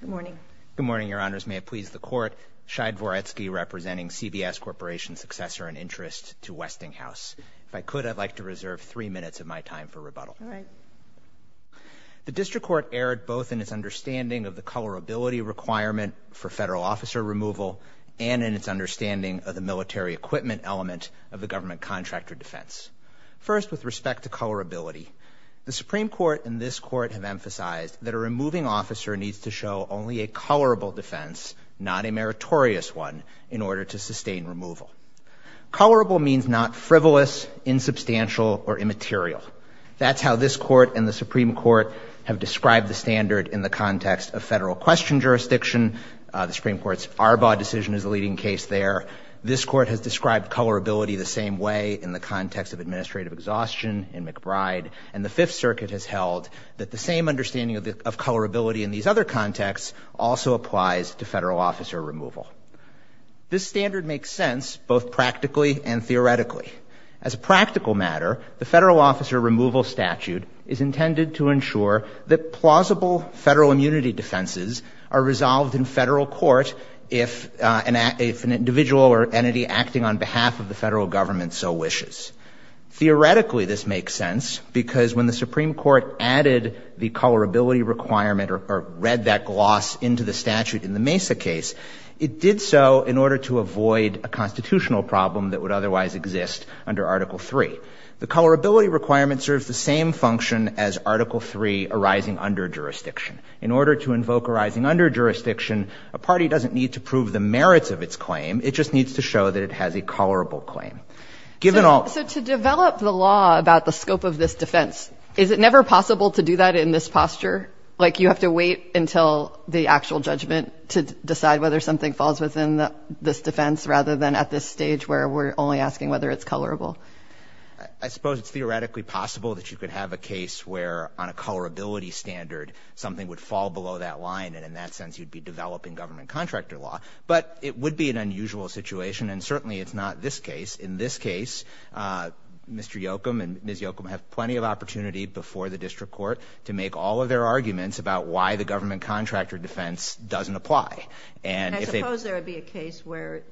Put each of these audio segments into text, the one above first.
Good morning. Good morning, Your Honors. May it please the Court, Shai Dvoretsky representing CBS Corporation's successor and interest to Westinghouse. If I could, I'd like to reserve three minutes of my time for rebuttal. The District Court erred both in its understanding of the colorability requirement for federal officer removal and in its understanding of the military equipment element of the government contractor defense. First with respect to colorability, the Supreme Court and this Court have emphasized that a removing officer needs to show only a colorable defense, not a meritorious one, in order to sustain removal. Colorable means not frivolous, insubstantial, or immaterial. That's how this Court and the Supreme Court have described the standard in the context of federal question jurisdiction. The Supreme Court's Arbaugh decision is a leading case there. This Court has described colorability the same way in the context of administrative exhaustion in McBride. And the Fifth Circuit has held that the same understanding of colorability in these other contexts also applies to federal officer removal. This standard makes sense both practically and theoretically. As a practical matter, the federal officer removal statute is intended to ensure that plausible federal immunity defenses are resolved in federal court if an individual or entity acting on behalf of the federal government so wishes. Theoretically, this makes sense because when the Supreme Court added the colorability requirement or read that gloss into the statute in the Mesa case, it did so in order to avoid a constitutional problem that would otherwise exist under Article III. The colorability requirement serves the same function as Article III arising under jurisdiction. In order to invoke arising under jurisdiction, a party doesn't need to prove the merits of its claim. It just needs to show that it has a colorable claim. So to develop the law about the scope of this defense, is it never possible to do that in this posture? Like, you have to wait until the actual judgment to decide whether something falls within this defense rather than at this stage where we're only asking whether it's colorable? I suppose it's theoretically possible that you could have a case where on a colorability standard something would fall below that line and in that sense you'd be developing government contractor law. But it would be an unusual situation and certainly it's not this case. In this case, Mr. Yochum and Ms. Yochum have plenty of opportunity before the district court to make all of their arguments about why the government contractor defense doesn't apply. And I suppose there would be a case where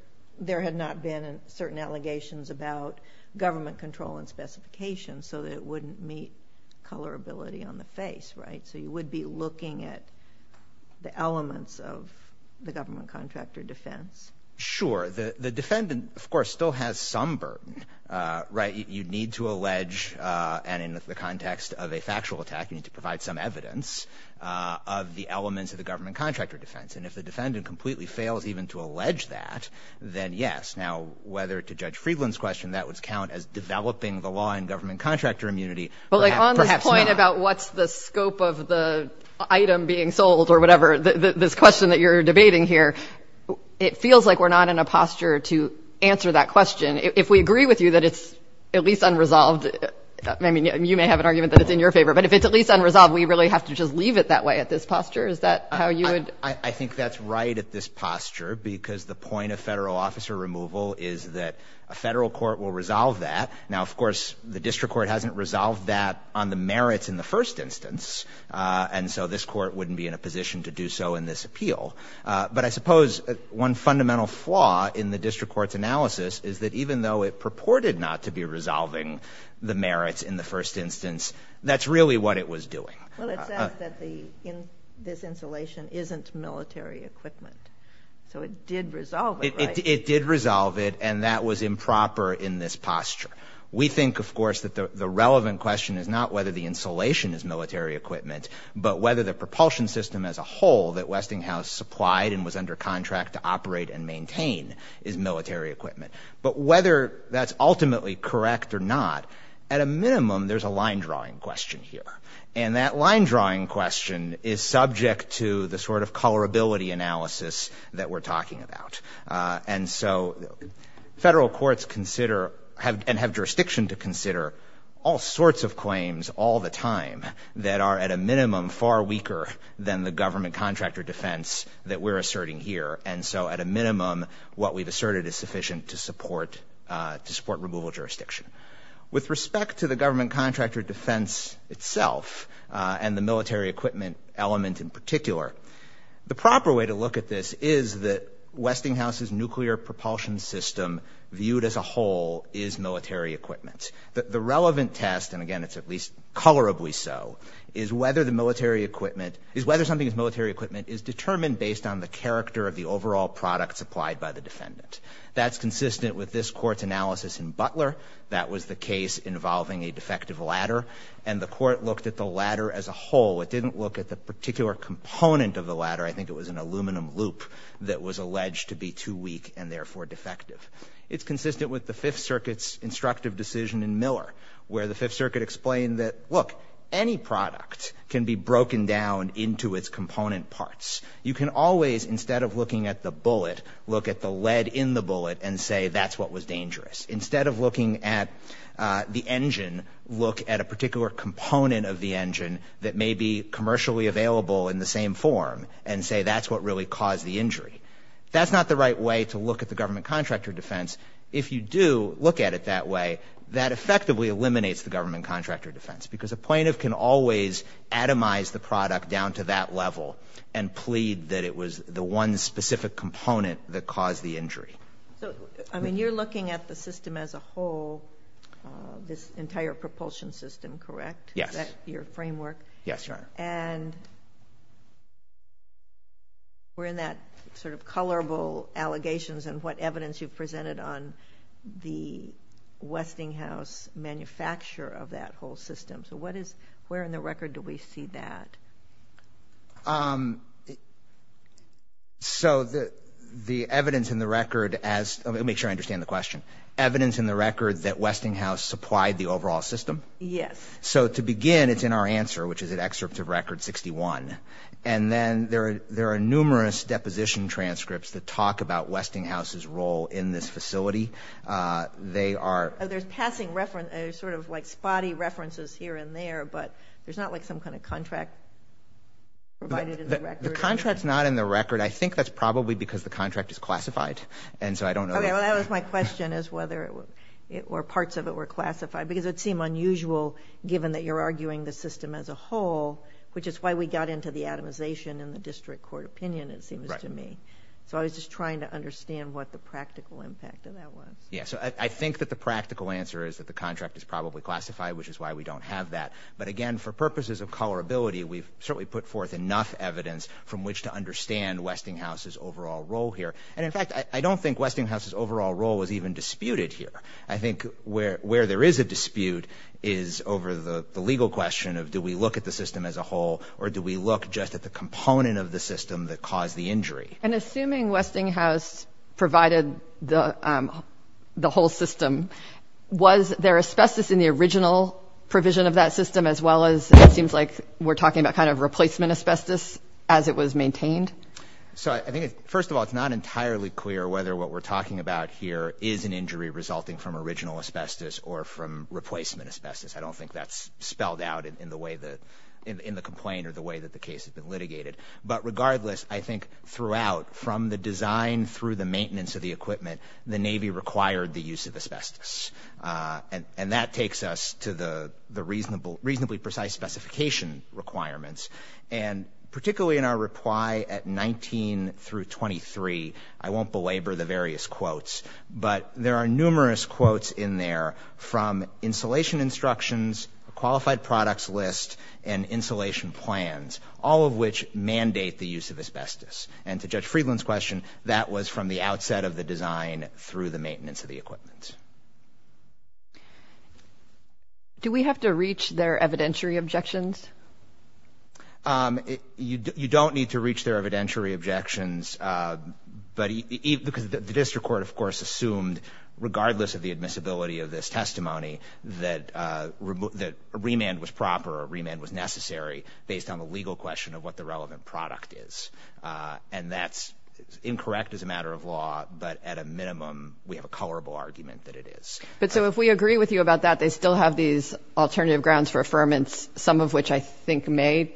there had not been certain allegations about government control and specifications so that it wouldn't meet colorability on the face, right? So you would be looking at the elements of the government contractor defense? Sure. The defendant, of course, still has some burden, right? You need to allege, and in the context of a factual attack, you need to provide some evidence of the elements of the government contractor defense. And if the defendant completely fails even to allege that, then yes. Now, whether to Judge Friedland's question that would count as developing the law in government contractor immunity, perhaps not. I mean, about what's the scope of the item being sold or whatever, this question that you're debating here, it feels like we're not in a posture to answer that question. If we agree with you that it's at least unresolved, I mean, you may have an argument that it's in your favor, but if it's at least unresolved, we really have to just leave it that way at this posture? Is that how you would? I think that's right at this posture because the point of federal officer removal is that a federal court will resolve that. Now, of course, the district court hasn't resolved that on the merits in the first instance, and so this court wouldn't be in a position to do so in this appeal. But I suppose one fundamental flaw in the district court's analysis is that even though it purported not to be resolving the merits in the first instance, that's really what it was doing. Well, it says that this insulation isn't military equipment. So it did resolve it, right? We think, of course, that the relevant question is not whether the insulation is military equipment, but whether the propulsion system as a whole that Westinghouse supplied and was under contract to operate and maintain is military equipment. But whether that's ultimately correct or not, at a minimum, there's a line-drawing question here. And that line-drawing question is subject to the sort of colorability analysis that we're talking about. And so federal courts consider and have jurisdiction to consider all sorts of claims all the time that are at a minimum far weaker than the government contractor defense that we're asserting here. And so at a minimum, what we've asserted is sufficient to support removal jurisdiction. With respect to the government contractor defense itself and the military equipment element in particular, the proper way to look at this is that Westinghouse's nuclear propulsion system viewed as a whole is military equipment. The relevant test, and again, it's at least colorably so, is whether something is military equipment is determined based on the character of the overall product supplied by the defendant. That's consistent with this court's analysis in Butler. That was the case involving a defective ladder. And the court looked at the ladder as a whole. It didn't look at the particular component of the ladder. I think it was an aluminum loop that was alleged to be too weak and therefore defective. It's consistent with the Fifth Circuit's instructive decision in Miller, where the Fifth Circuit explained that, look, any product can be broken down into its component parts. You can always, instead of looking at the bullet, look at the lead in the bullet and say that's what was dangerous. Instead of looking at the engine, look at a particular component of the engine that may be commercially available in the same form and say that's what really caused the injury. That's not the right way to look at the government contractor defense. If you do look at it that way, that effectively eliminates the government contractor defense because a plaintiff can always atomize the product down to that level and plead that it was the one specific component that caused the injury. So, I mean, you're looking at the system as a whole, this entire propulsion system, correct? Yes. Is that your framework? Yes, Your Honor. And we're in that sort of colorable allegations and what evidence you've presented on the Westinghouse manufacturer of that whole system. So what is, where in the record do we see that? Um, so the evidence in the record as, let me make sure I understand the question. Evidence in the record that Westinghouse supplied the overall system? Yes. So to begin, it's in our answer, which is an excerpt of record 61. And then there are numerous deposition transcripts that talk about Westinghouse's role in this facility. They are... Oh, there's passing reference, sort of like spotty references here and there, but there's not like some kind of contract provided in the record? The contract's not in the record. I think that's probably because the contract is classified. And so I don't know... Okay, well that was my question, is whether it, or parts of it were classified. Because it'd seem unusual, given that you're arguing the system as a whole, which is why we got into the atomization in the district court opinion, it seems to me. Right. So I was just trying to understand what the practical impact of that was. Yeah, so I think that the practical answer is that the contract is probably classified, which is why we don't have that. But again, for purposes of colorability, we've certainly put forth enough evidence from which to understand Westinghouse's overall role here. And in fact, I don't think Westinghouse's overall role was even disputed here. I think where there is a dispute is over the legal question of, do we look at the system as a whole, or do we look just at the component of the system that caused the injury? And assuming Westinghouse provided the whole system, was there asbestos in the original provision of that system, as well as, it seems like we're talking about kind of replacement asbestos as it was maintained? So I think, first of all, it's not entirely clear whether what we're talking about here is an injury resulting from original asbestos or from replacement asbestos. I don't think that's spelled out in the way that, in the complaint or the way that the case has been litigated. But regardless, I think throughout, from the design through the maintenance of the equipment, the Navy required the use of asbestos. And that takes us to the reasonably precise specification requirements. And particularly in our reply at 19 through 23, I won't belabor the various quotes, but there are numerous quotes in there from installation instructions, qualified products list, and insulation plans, all of which mandate the use of asbestos. And to Judge Friedland's question, that was from the outset of the design through the maintenance of the equipment. Do we have to reach their evidentiary objections? You don't need to reach their evidentiary objections, because the district court, of course, assumed, regardless of the admissibility of this testimony, that remand was proper or remand was necessary based on the legal question of what the relevant product is. And that's incorrect as a matter of law, but at a minimum, we have a colorable argument that it is. But so if we agree with you about that, they still have these alternative grounds for affirmance, some of which I think may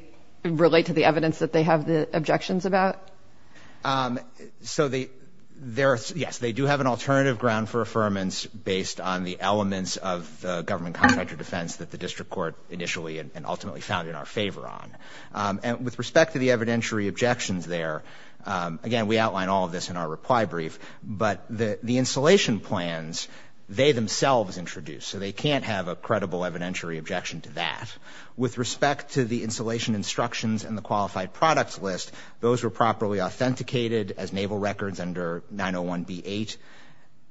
relate to the evidence that they have the objections about? So they, yes, they do have an alternative ground for affirmance based on the elements of the government contractor defense that the district court initially and ultimately found in our favor on. And with respect to the evidentiary objections there, again, we outline all of this in our reply brief, but the installation plans, they themselves introduced, so they can't have a credible evidentiary objection to that. With respect to the installation instructions and the qualified products list, those were properly authenticated as naval records under 901B8.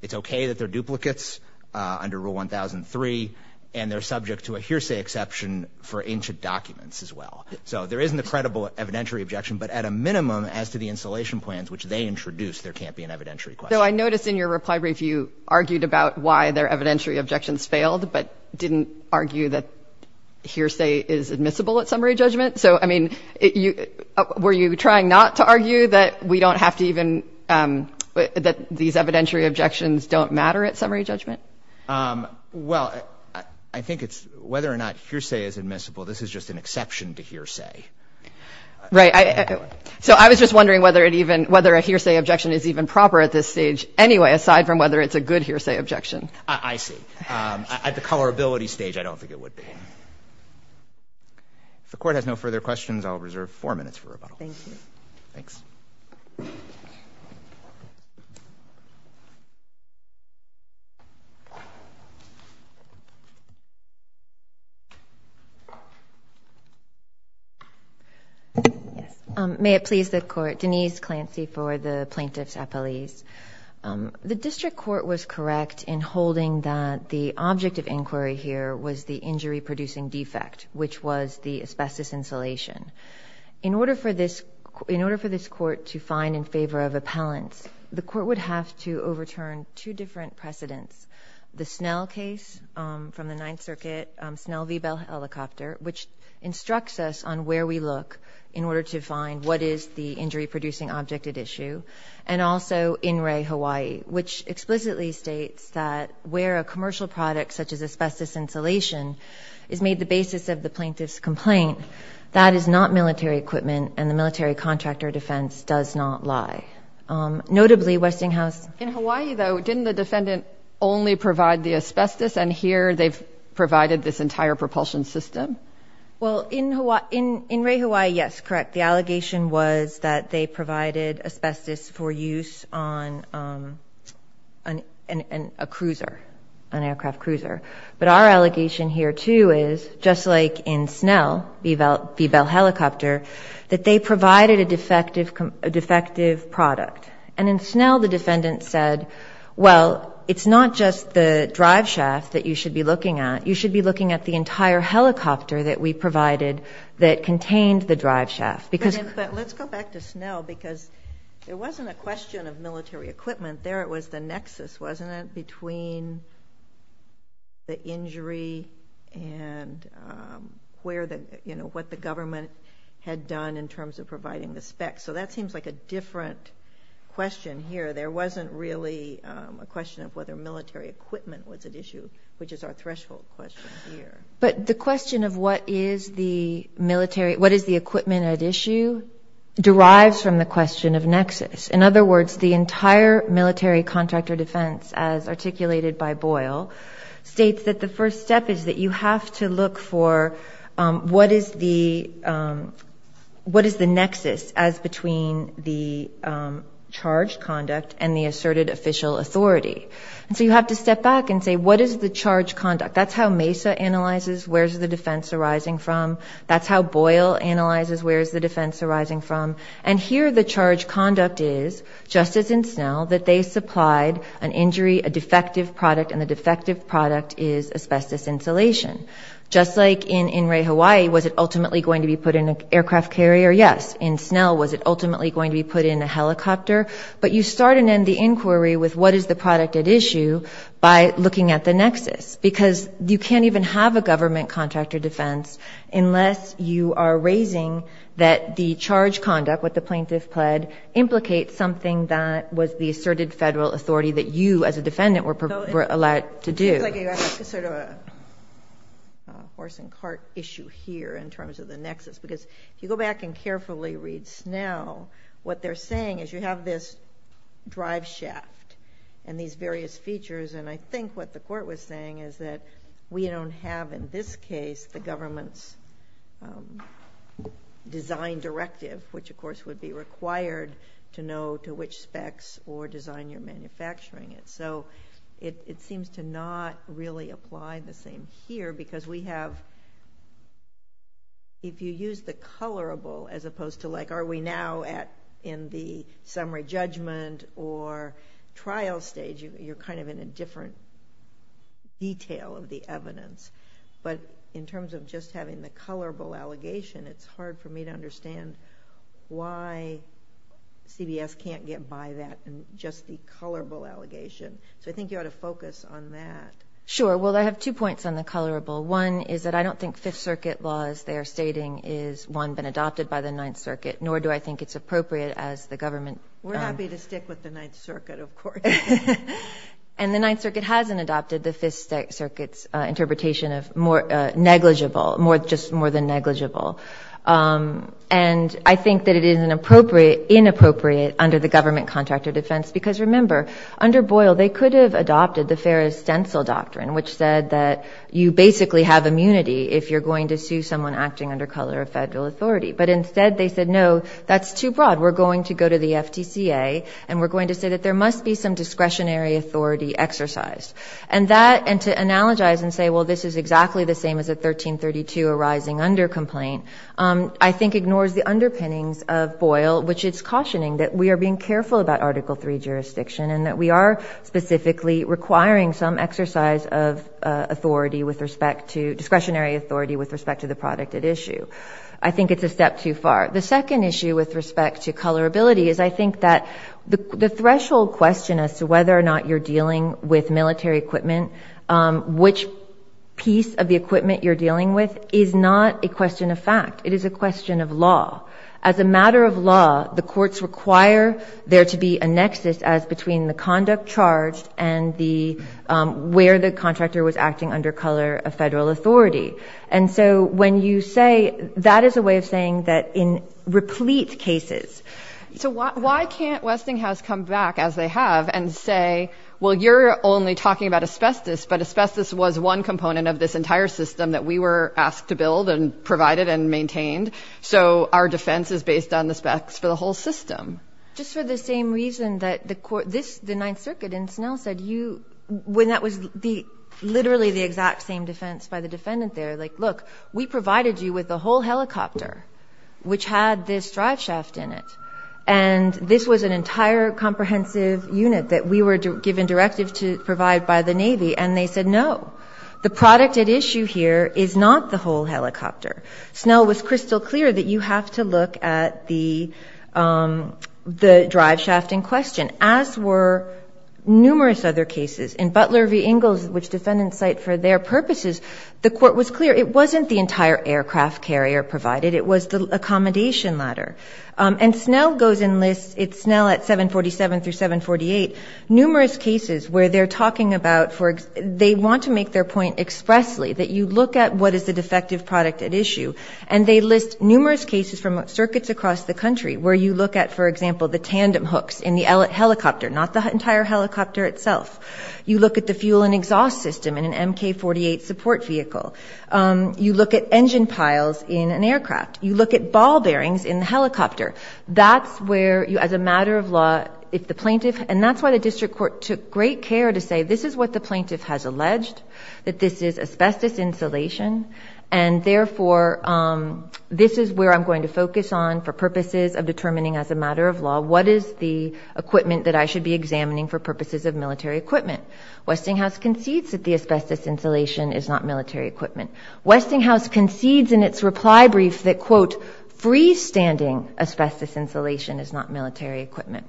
It's okay that they're duplicates under Rule 1003, and they're subject to a hearsay exception for ancient documents as well. So there is an incredible evidentiary objection, but at a minimum, as to the installation plans which they introduced, there can't be an evidentiary question. So I noticed in your reply brief, you argued about why their evidentiary objections failed, but didn't argue that hearsay is admissible at summary judgment. So I mean, were you trying not to argue that we don't have to even, that these evidentiary objections don't matter at summary judgment? Well, I think it's whether or not hearsay is admissible, this is just an exception to hearsay. Right. So I was just wondering whether it even, whether a hearsay objection is even proper at this stage anyway, aside from whether it's a good hearsay objection. I see. At the colorability stage, I don't think it would be. If the Court has no further questions, I'll reserve four minutes for rebuttals. Thank you. Thanks. Yes. May it please the Court, Denise Clancy for the Plaintiff's Appellees. The District Court was correct in holding that the object of inquiry here was the injury-producing defect, which was the asbestos insulation. In order for this Court to find in favor of appellants, the Court would have to overturn two different precedents. The Snell case from the Ninth Circuit, Snell v. Bell Helicopter, which instructs us on where we look in order to find what is the injury-producing object at issue. And also, In Re, Hawaii, which explicitly states that where a commercial product such as asbestos insulation is made the basis of the plaintiff's complaint, that is not military equipment and the military contractor defense does not lie. Notably, Westinghouse— In Hawaii, though, didn't the defendant only provide the asbestos, and here they've provided this entire propulsion system? Well, in Re, Hawaii, yes, correct. The allegation was that they provided asbestos for use on a cruiser, an aircraft cruiser. But our allegation here, too, is, just like in Snell v. Bell Helicopter, that they provided a defective product. And in Snell, the defendant said, well, it's not just the driveshaft that you should be concerned about. It's the helicopter that we provided that contained the driveshaft. But let's go back to Snell, because there wasn't a question of military equipment there. It was the nexus, wasn't it, between the injury and what the government had done in terms of providing the specs. So that seems like a different question here. There wasn't really a question of whether military equipment was at issue, which is our threshold question here. But the question of what is the equipment at issue derives from the question of nexus. In other words, the entire military contractor defense, as articulated by Boyle, states that the first step is that you have to look for what is the nexus as between the charged conduct and the asserted official authority. And so you have to step back and say, what is the charged conduct? That's how Mesa analyzes where's the defense arising from. That's how Boyle analyzes where's the defense arising from. And here, the charged conduct is, just as in Snell, that they supplied an injury, a defective product, and the defective product is asbestos insulation. Just like in Ray, Hawaii, was it ultimately going to be put in an aircraft carrier? Yes. In Snell, was it ultimately going to be put in a helicopter? But you start and end the inquiry with what is the product at issue by looking at the nexus. Because you can't even have a government contractor defense unless you are raising that the charged conduct, what the plaintiff pled, implicates something that was the asserted federal authority that you, as a defendant, were allowed to do. It's like a sort of a horse and cart issue here in terms of the nexus, because if you go back and carefully read Snell, what they're saying is you have this drive shaft and these various features. I think what the court was saying is that we don't have, in this case, the government's design directive, which, of course, would be required to know to which specs or design you're manufacturing it. It seems to not really apply the same here because we have... if you use the colorable as opposed to like are we now in the summary judgment or trial stage, you're kind of in a different detail of the evidence. But in terms of just having the colorable allegation, it's hard for me to understand why CBS can't get by that and just the colorable allegation. So I think you ought to focus on that. Sure. Well, I have two points on the colorable. One is that I don't think Fifth Circuit laws they are stating is, one, been adopted by the Ninth Circuit, nor do I think it's appropriate as the government... We're happy to stick with the Ninth Circuit, of course. And the Ninth Circuit hasn't adopted the Fifth Circuit's interpretation of more negligible, more just more than negligible. And I think that it is inappropriate under the government contract of defense because, remember, under Boyle, they could have adopted the Ferris Stencil Doctrine, which said that you basically have immunity if you're going to sue someone acting under color of federal authority. But instead, they said, no, that's too broad. We're going to go to the FTCA and we're going to say that there must be some discretionary authority exercised. And that, and to analogize and say, well, this is exactly the same as a 1332 arising under complaint, I think ignores the underpinnings of Boyle, which is cautioning that we are being careful about Article III jurisdiction and that we are specifically requiring some exercise of authority with respect to discretionary authority with respect to the product at issue. I think it's a step too far. The second issue with respect to colorability is I think that the threshold question as to whether or not you're dealing with military equipment, which piece of the equipment you're dealing with, is not a question of fact. It is a question of law. As a matter of law, the courts require there to be a nexus as between the conduct charged and the, where the contractor was acting under color of federal authority. And so when you say, that is a way of saying that in replete cases. So why can't Westinghouse come back as they have and say, well, you're only talking about asbestos, but asbestos was one component of this entire system that we were asked to build and provided and maintained. So our defense is based on the specs for the whole system. Just for the same reason that the court, this, the Ninth Circuit in Snell said you, when that was the, literally the exact same defense by the defendant there, like, look, we provided you with the whole helicopter, which had this drive shaft in it. And this was an entire comprehensive unit that we were given directive to provide by the Navy. And they said, no, the product at issue here is not the whole helicopter. Snell was crystal clear that you have to look at the, the drive shaft in question, as were numerous other cases. In Butler v. Ingalls, which defendants cite for their purposes, the court was clear it wasn't the entire aircraft carrier provided, it was the accommodation ladder. And Snell goes and lists, it's Snell at 747 through 748, numerous cases where they're talking about, they want to make their point expressly, that you look at what is the defective product at issue. And they list numerous cases from circuits across the country where you look at, for example, the helicopter, not the entire helicopter itself. You look at the fuel and exhaust system in an MK-48 support vehicle. You look at engine piles in an aircraft. You look at ball bearings in the helicopter. That's where you, as a matter of law, if the plaintiff, and that's why the district court took great care to say, this is what the plaintiff has alleged, that this is asbestos insulation. And therefore, this is where I'm going to focus on for purposes of determining as a I should be examining for purposes of military equipment. Westinghouse concedes that the asbestos insulation is not military equipment. Westinghouse concedes in its reply brief that, quote, freestanding asbestos insulation is not military equipment.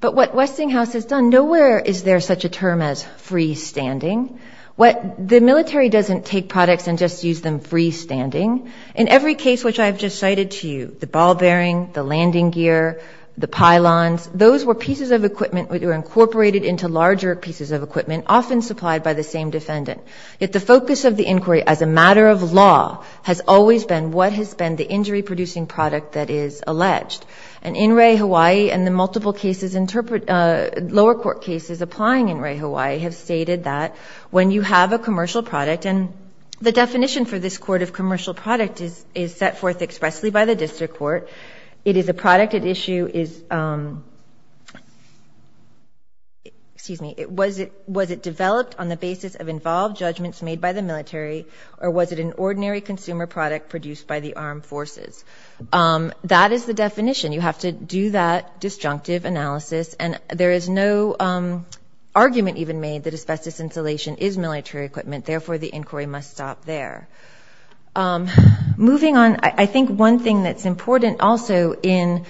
But what Westinghouse has done, nowhere is there such a term as freestanding. The military doesn't take products and just use them freestanding. In every case which I've just cited to you, the ball bearing, the landing gear, the pylons, those were pieces of equipment which were incorporated into larger pieces of equipment, often supplied by the same defendant. Yet the focus of the inquiry, as a matter of law, has always been what has been the injury-producing product that is alleged. And in Ray, Hawaii, and the multiple cases, lower court cases applying in Ray, Hawaii, have stated that when you have a commercial product, and the definition for this court of commercial product is set forth expressly by the district court. It is a product at issue is, excuse me, was it developed on the basis of involved judgments made by the military, or was it an ordinary consumer product produced by the armed forces? That is the definition. You have to do that disjunctive analysis. And there is no argument even made that asbestos insulation is military equipment, therefore the inquiry must stop there. Moving on, I think one thing that's important also in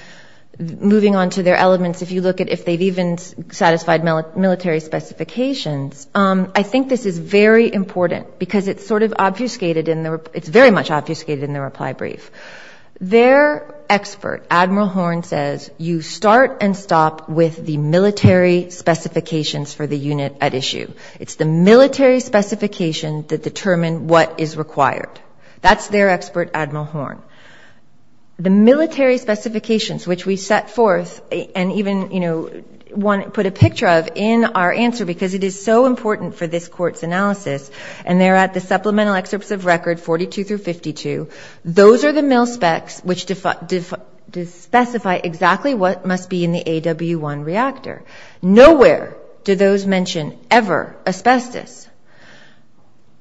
moving on to their elements, if you look at if they've even satisfied military specifications, I think this is very important because it's sort of obfuscated in the, it's very much obfuscated in the reply brief. Their expert, Admiral Horn, says you start and stop with the military specifications for the unit at issue. It's the military specification that determine what is required. That's their expert, Admiral Horn. The military specifications, which we set forth and even put a picture of in our answer because it is so important for this court's analysis, and they're at the supplemental excerpts of record 42 through 52. Those are the mil specs which specify exactly what must be in the AW1 reactor. Nowhere do those mention ever asbestos.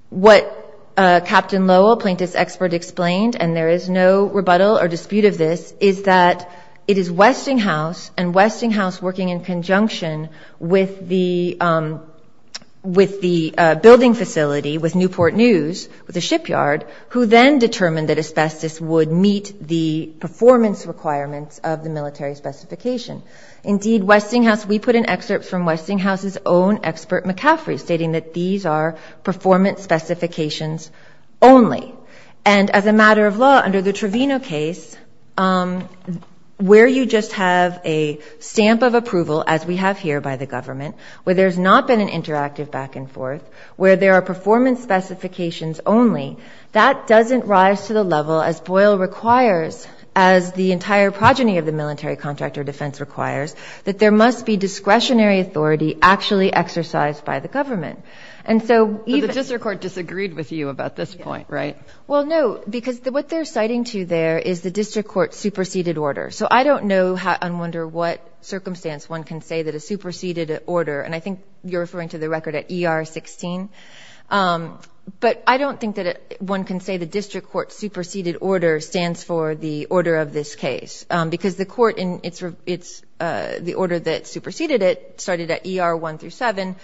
What Captain Lowell, plaintiff's expert, explained, and there is no rebuttal or dispute of this, is that it is Westinghouse and Westinghouse working in conjunction with the building facility, with Newport News, with the shipyard, who then determined that asbestos would meet the performance requirements of the military specification. Indeed, Westinghouse, we put in excerpts from Westinghouse's own expert, McCaffrey, stating that these are performance specifications only. And as a matter of law, under the Trevino case, where you just have a stamp of approval, as we have here by the government, where there's not been an interactive back and forth, where there are performance specifications only, that doesn't rise to the level as Boyle requires as the entire progeny of the military contractor defense requires, that there must be discretionary authority actually exercised by the government. And so even... But the district court disagreed with you about this point, right? Well, no, because what they're citing to there is the district court's superseded order. So I don't know and wonder what circumstance one can say that a superseded order, and I think you're referring to the record at ER 16, but I don't think that one can say the order of this case, because the court in its... The order that superseded it, started at ER 1-7,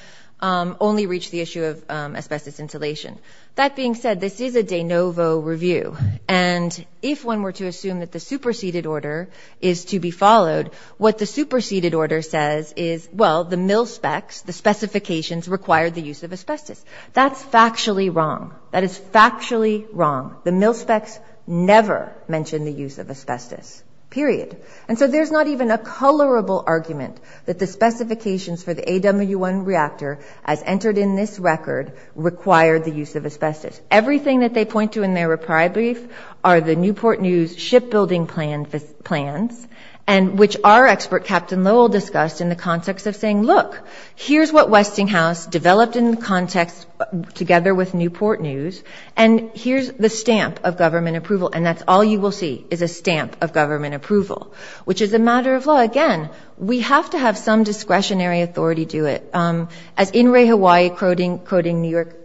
only reached the issue of asbestos insulation. That being said, this is a de novo review, and if one were to assume that the superseded order is to be followed, what the superseded order says is, well, the mil specs, the specifications require the use of asbestos. That's factually wrong. That is factually wrong. The mil specs never mentioned the use of asbestos, period. And so there's not even a colorable argument that the specifications for the AW1 reactor, as entered in this record, required the use of asbestos. Everything that they point to in their reply brief are the Newport News shipbuilding plans, and which our expert, Captain Lowell, discussed in the context of saying, look, here's what approval, and that's all you will see is a stamp of government approval, which is a matter of law. Again, we have to have some discretionary authority do it. As In Re Hawaii quoting New York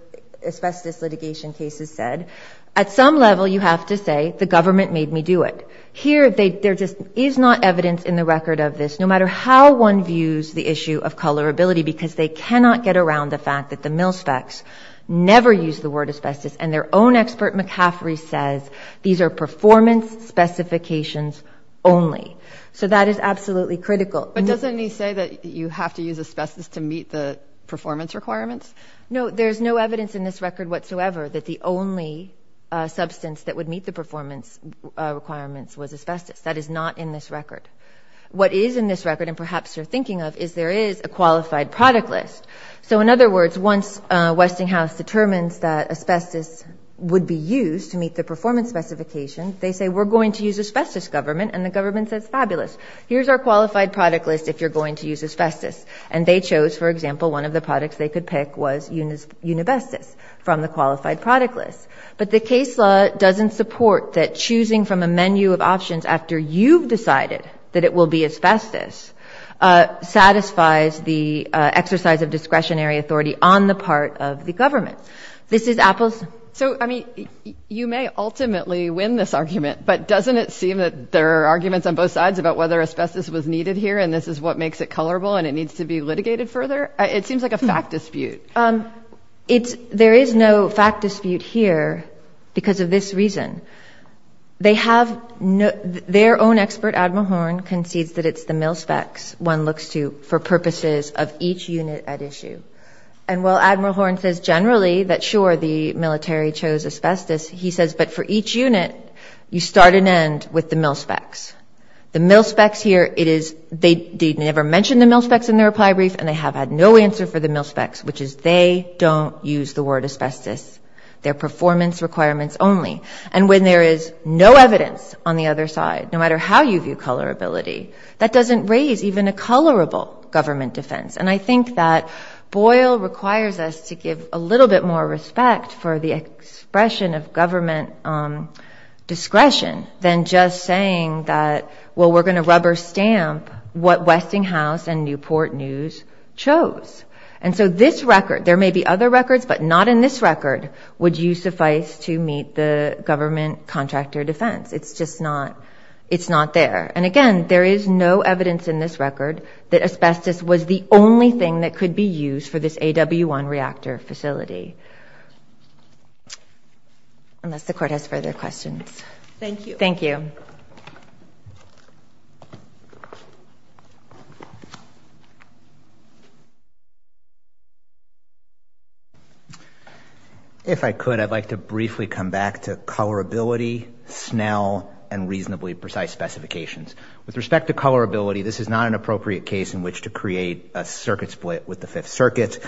asbestos litigation cases said, at some level you have to say, the government made me do it. Here there just is not evidence in the record of this, no matter how one views the issue of colorability, because they cannot get around the fact that the mil specs never used the asbestos. McCaffrey says these are performance specifications only. So that is absolutely critical. But doesn't he say that you have to use asbestos to meet the performance requirements? No, there's no evidence in this record whatsoever that the only substance that would meet the performance requirements was asbestos. That is not in this record. What is in this record, and perhaps you're thinking of, is there is a qualified product list. So in other words, once Westinghouse determines that asbestos would be used to meet the performance specification, they say we're going to use asbestos, government, and the government says fabulous. Here's our qualified product list if you're going to use asbestos. And they chose, for example, one of the products they could pick was unibestus from the qualified product list. But the case law doesn't support that choosing from a menu of options after you've decided that it will be asbestos satisfies the exercise of discretionary authority on the part of the government. This is apples. So, I mean, you may ultimately win this argument, but doesn't it seem that there are arguments on both sides about whether asbestos was needed here and this is what makes it colorable and it needs to be litigated further? It seems like a fact dispute. There is no fact dispute here because of this reason. They have no, their own expert, Admiral Horn, concedes that it's the mil specs one looks to for purposes of each unit at issue. And while Admiral Horn says generally that sure, the military chose asbestos, he says but for each unit, you start and end with the mil specs. The mil specs here, it is, they never mentioned the mil specs in their reply brief and they have had no answer for the mil specs, which is they don't use the word asbestos. They're performance requirements only. And when there is no evidence on the other side, no matter how you view colorability, that doesn't raise even a colorable government defense. And I think that Boyle requires us to give a little bit more respect for the expression of government discretion than just saying that, well, we're going to rubber stamp what Westinghouse and Newport News chose. And so this record, there may be other records, but not in this record would you suffice to meet the government contractor defense. It's just not, it's not there. And again, there is no evidence in this record that asbestos was the only thing that could be used for this AW1 reactor facility. Unless the court has further questions. Thank you. Thank you. If I could, I'd like to briefly come back to colorability, Snell and reasonably precise specifications. With respect to colorability, this is not an appropriate case in which to create a circuit split with the fifth circuit.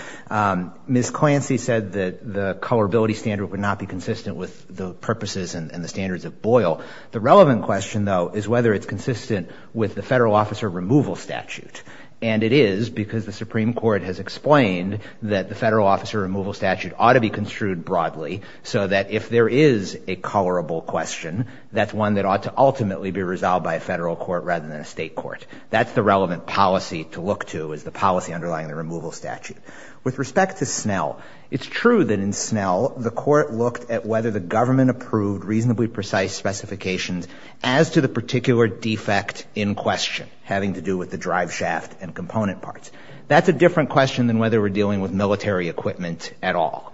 Ms. Clancy said that the colorability standard would not be consistent with the purposes and the standards of Boyle. The relevant question though, is whether it's consistent with the federal officer removal statute. And it is because the Supreme Court has explained that the federal officer removal statute ought to be construed broadly so that if there is a colorable question, that's one that ought to ultimately be resolved by a federal court rather than a state court. That's the relevant policy to look to is the policy underlying the removal statute. With respect to Snell, it's true that in Snell, the court looked at whether the government approved reasonably precise specifications as to the particular defect in question having to do with the drive shaft and component parts. That's a different question than whether we're dealing with military equipment at all.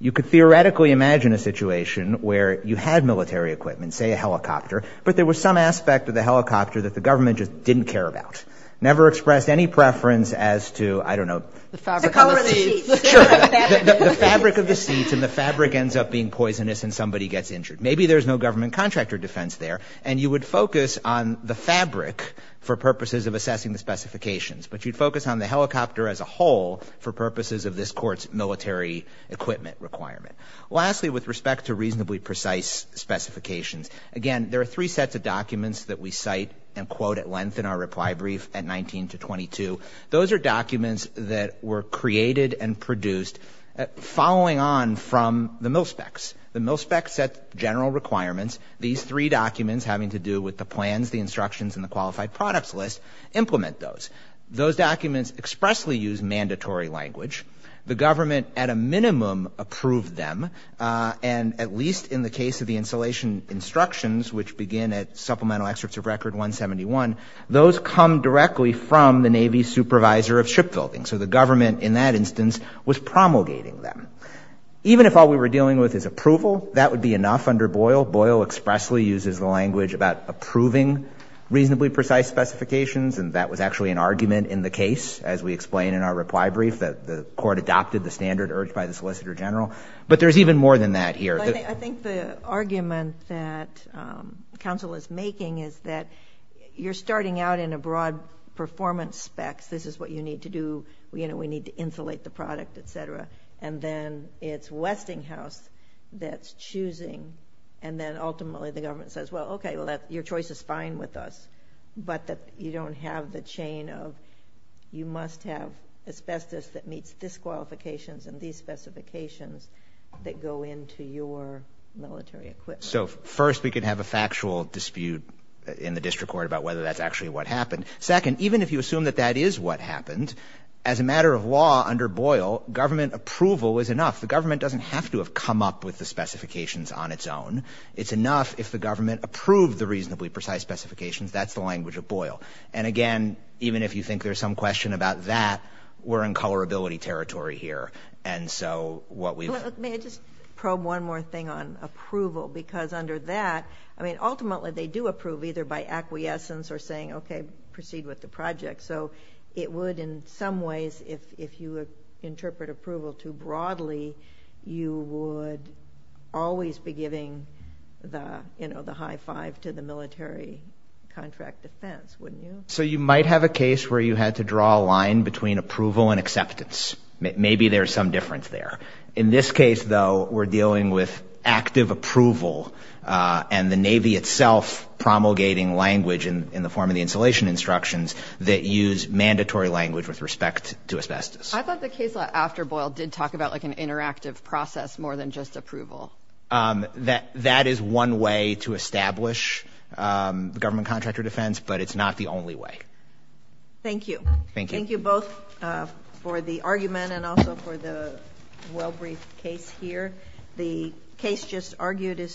You could theoretically imagine a situation where you had military equipment, say a helicopter, but there was some aspect of the helicopter that the government just didn't care about. Never expressed any preference as to, I don't know, the fabric of the seats and the fabric ends up being poisonous and somebody gets injured. Maybe there's no government contractor defense there, and you would focus on the fabric for purposes of assessing the specifications. But you'd focus on the helicopter as a whole for purposes of this court's military equipment requirement. Lastly, with respect to reasonably precise specifications, again, there are three sets of documents that we cite and quote at length in our reply brief at 19 to 22. Those are documents that were created and produced following on from the mil specs. The mil specs set general requirements. These three documents having to do with the plans, the instructions, and the qualified products list implement those. Those documents expressly use mandatory language. The government at a minimum approved them, and at least in the case of the installation instructions, which begin at supplemental excerpts of record 171, those come directly from the Navy supervisor of shipbuilding. So the government, in that instance, was promulgating them. Even if all we were dealing with is approval, that would be enough under Boyle. Boyle expressly uses the language about approving reasonably precise specifications, and that was actually an argument in the case, as we explain in our reply brief, that the court adopted the standard urged by the solicitor general. But there's even more than that here. I think the argument that counsel is making is that you're starting out in a broad performance specs. This is what you need to do. You know, we need to insulate the product, et cetera. And then it's Westinghouse that's choosing, and then ultimately the government says, well, okay, your choice is fine with us, but you don't have the chain of you must have asbestos that meets disqualifications and these specifications that go into your military equipment. So first we could have a factual dispute in the district court about whether that's actually what happened. Second, even if you assume that that is what happened, as a matter of law under Boyle, government approval is enough. The government doesn't have to have come up with the specifications on its own. It's enough if the government approved the reasonably precise specifications. That's the language of Boyle. And again, even if you think there's some question about that, we're in colorability territory here. And so what we've- Let me just probe one more thing on approval, because under that, I mean, ultimately they do approve either by acquiescence or saying, okay, proceed with the project. So it would, in some ways, if you would interpret approval too broadly, you would always be the high five to the military contract defense, wouldn't you? So you might have a case where you had to draw a line between approval and acceptance. Maybe there's some difference there. In this case, though, we're dealing with active approval and the Navy itself promulgating language in the form of the installation instructions that use mandatory language with respect to asbestos. I thought the case law after Boyle did talk about like an interactive process more than just approval. That is one way to establish the government contractor defense, but it's not the only way. Thank you. Thank you. Thank you both for the argument and also for the well-briefed case here. The case just argued is submitted.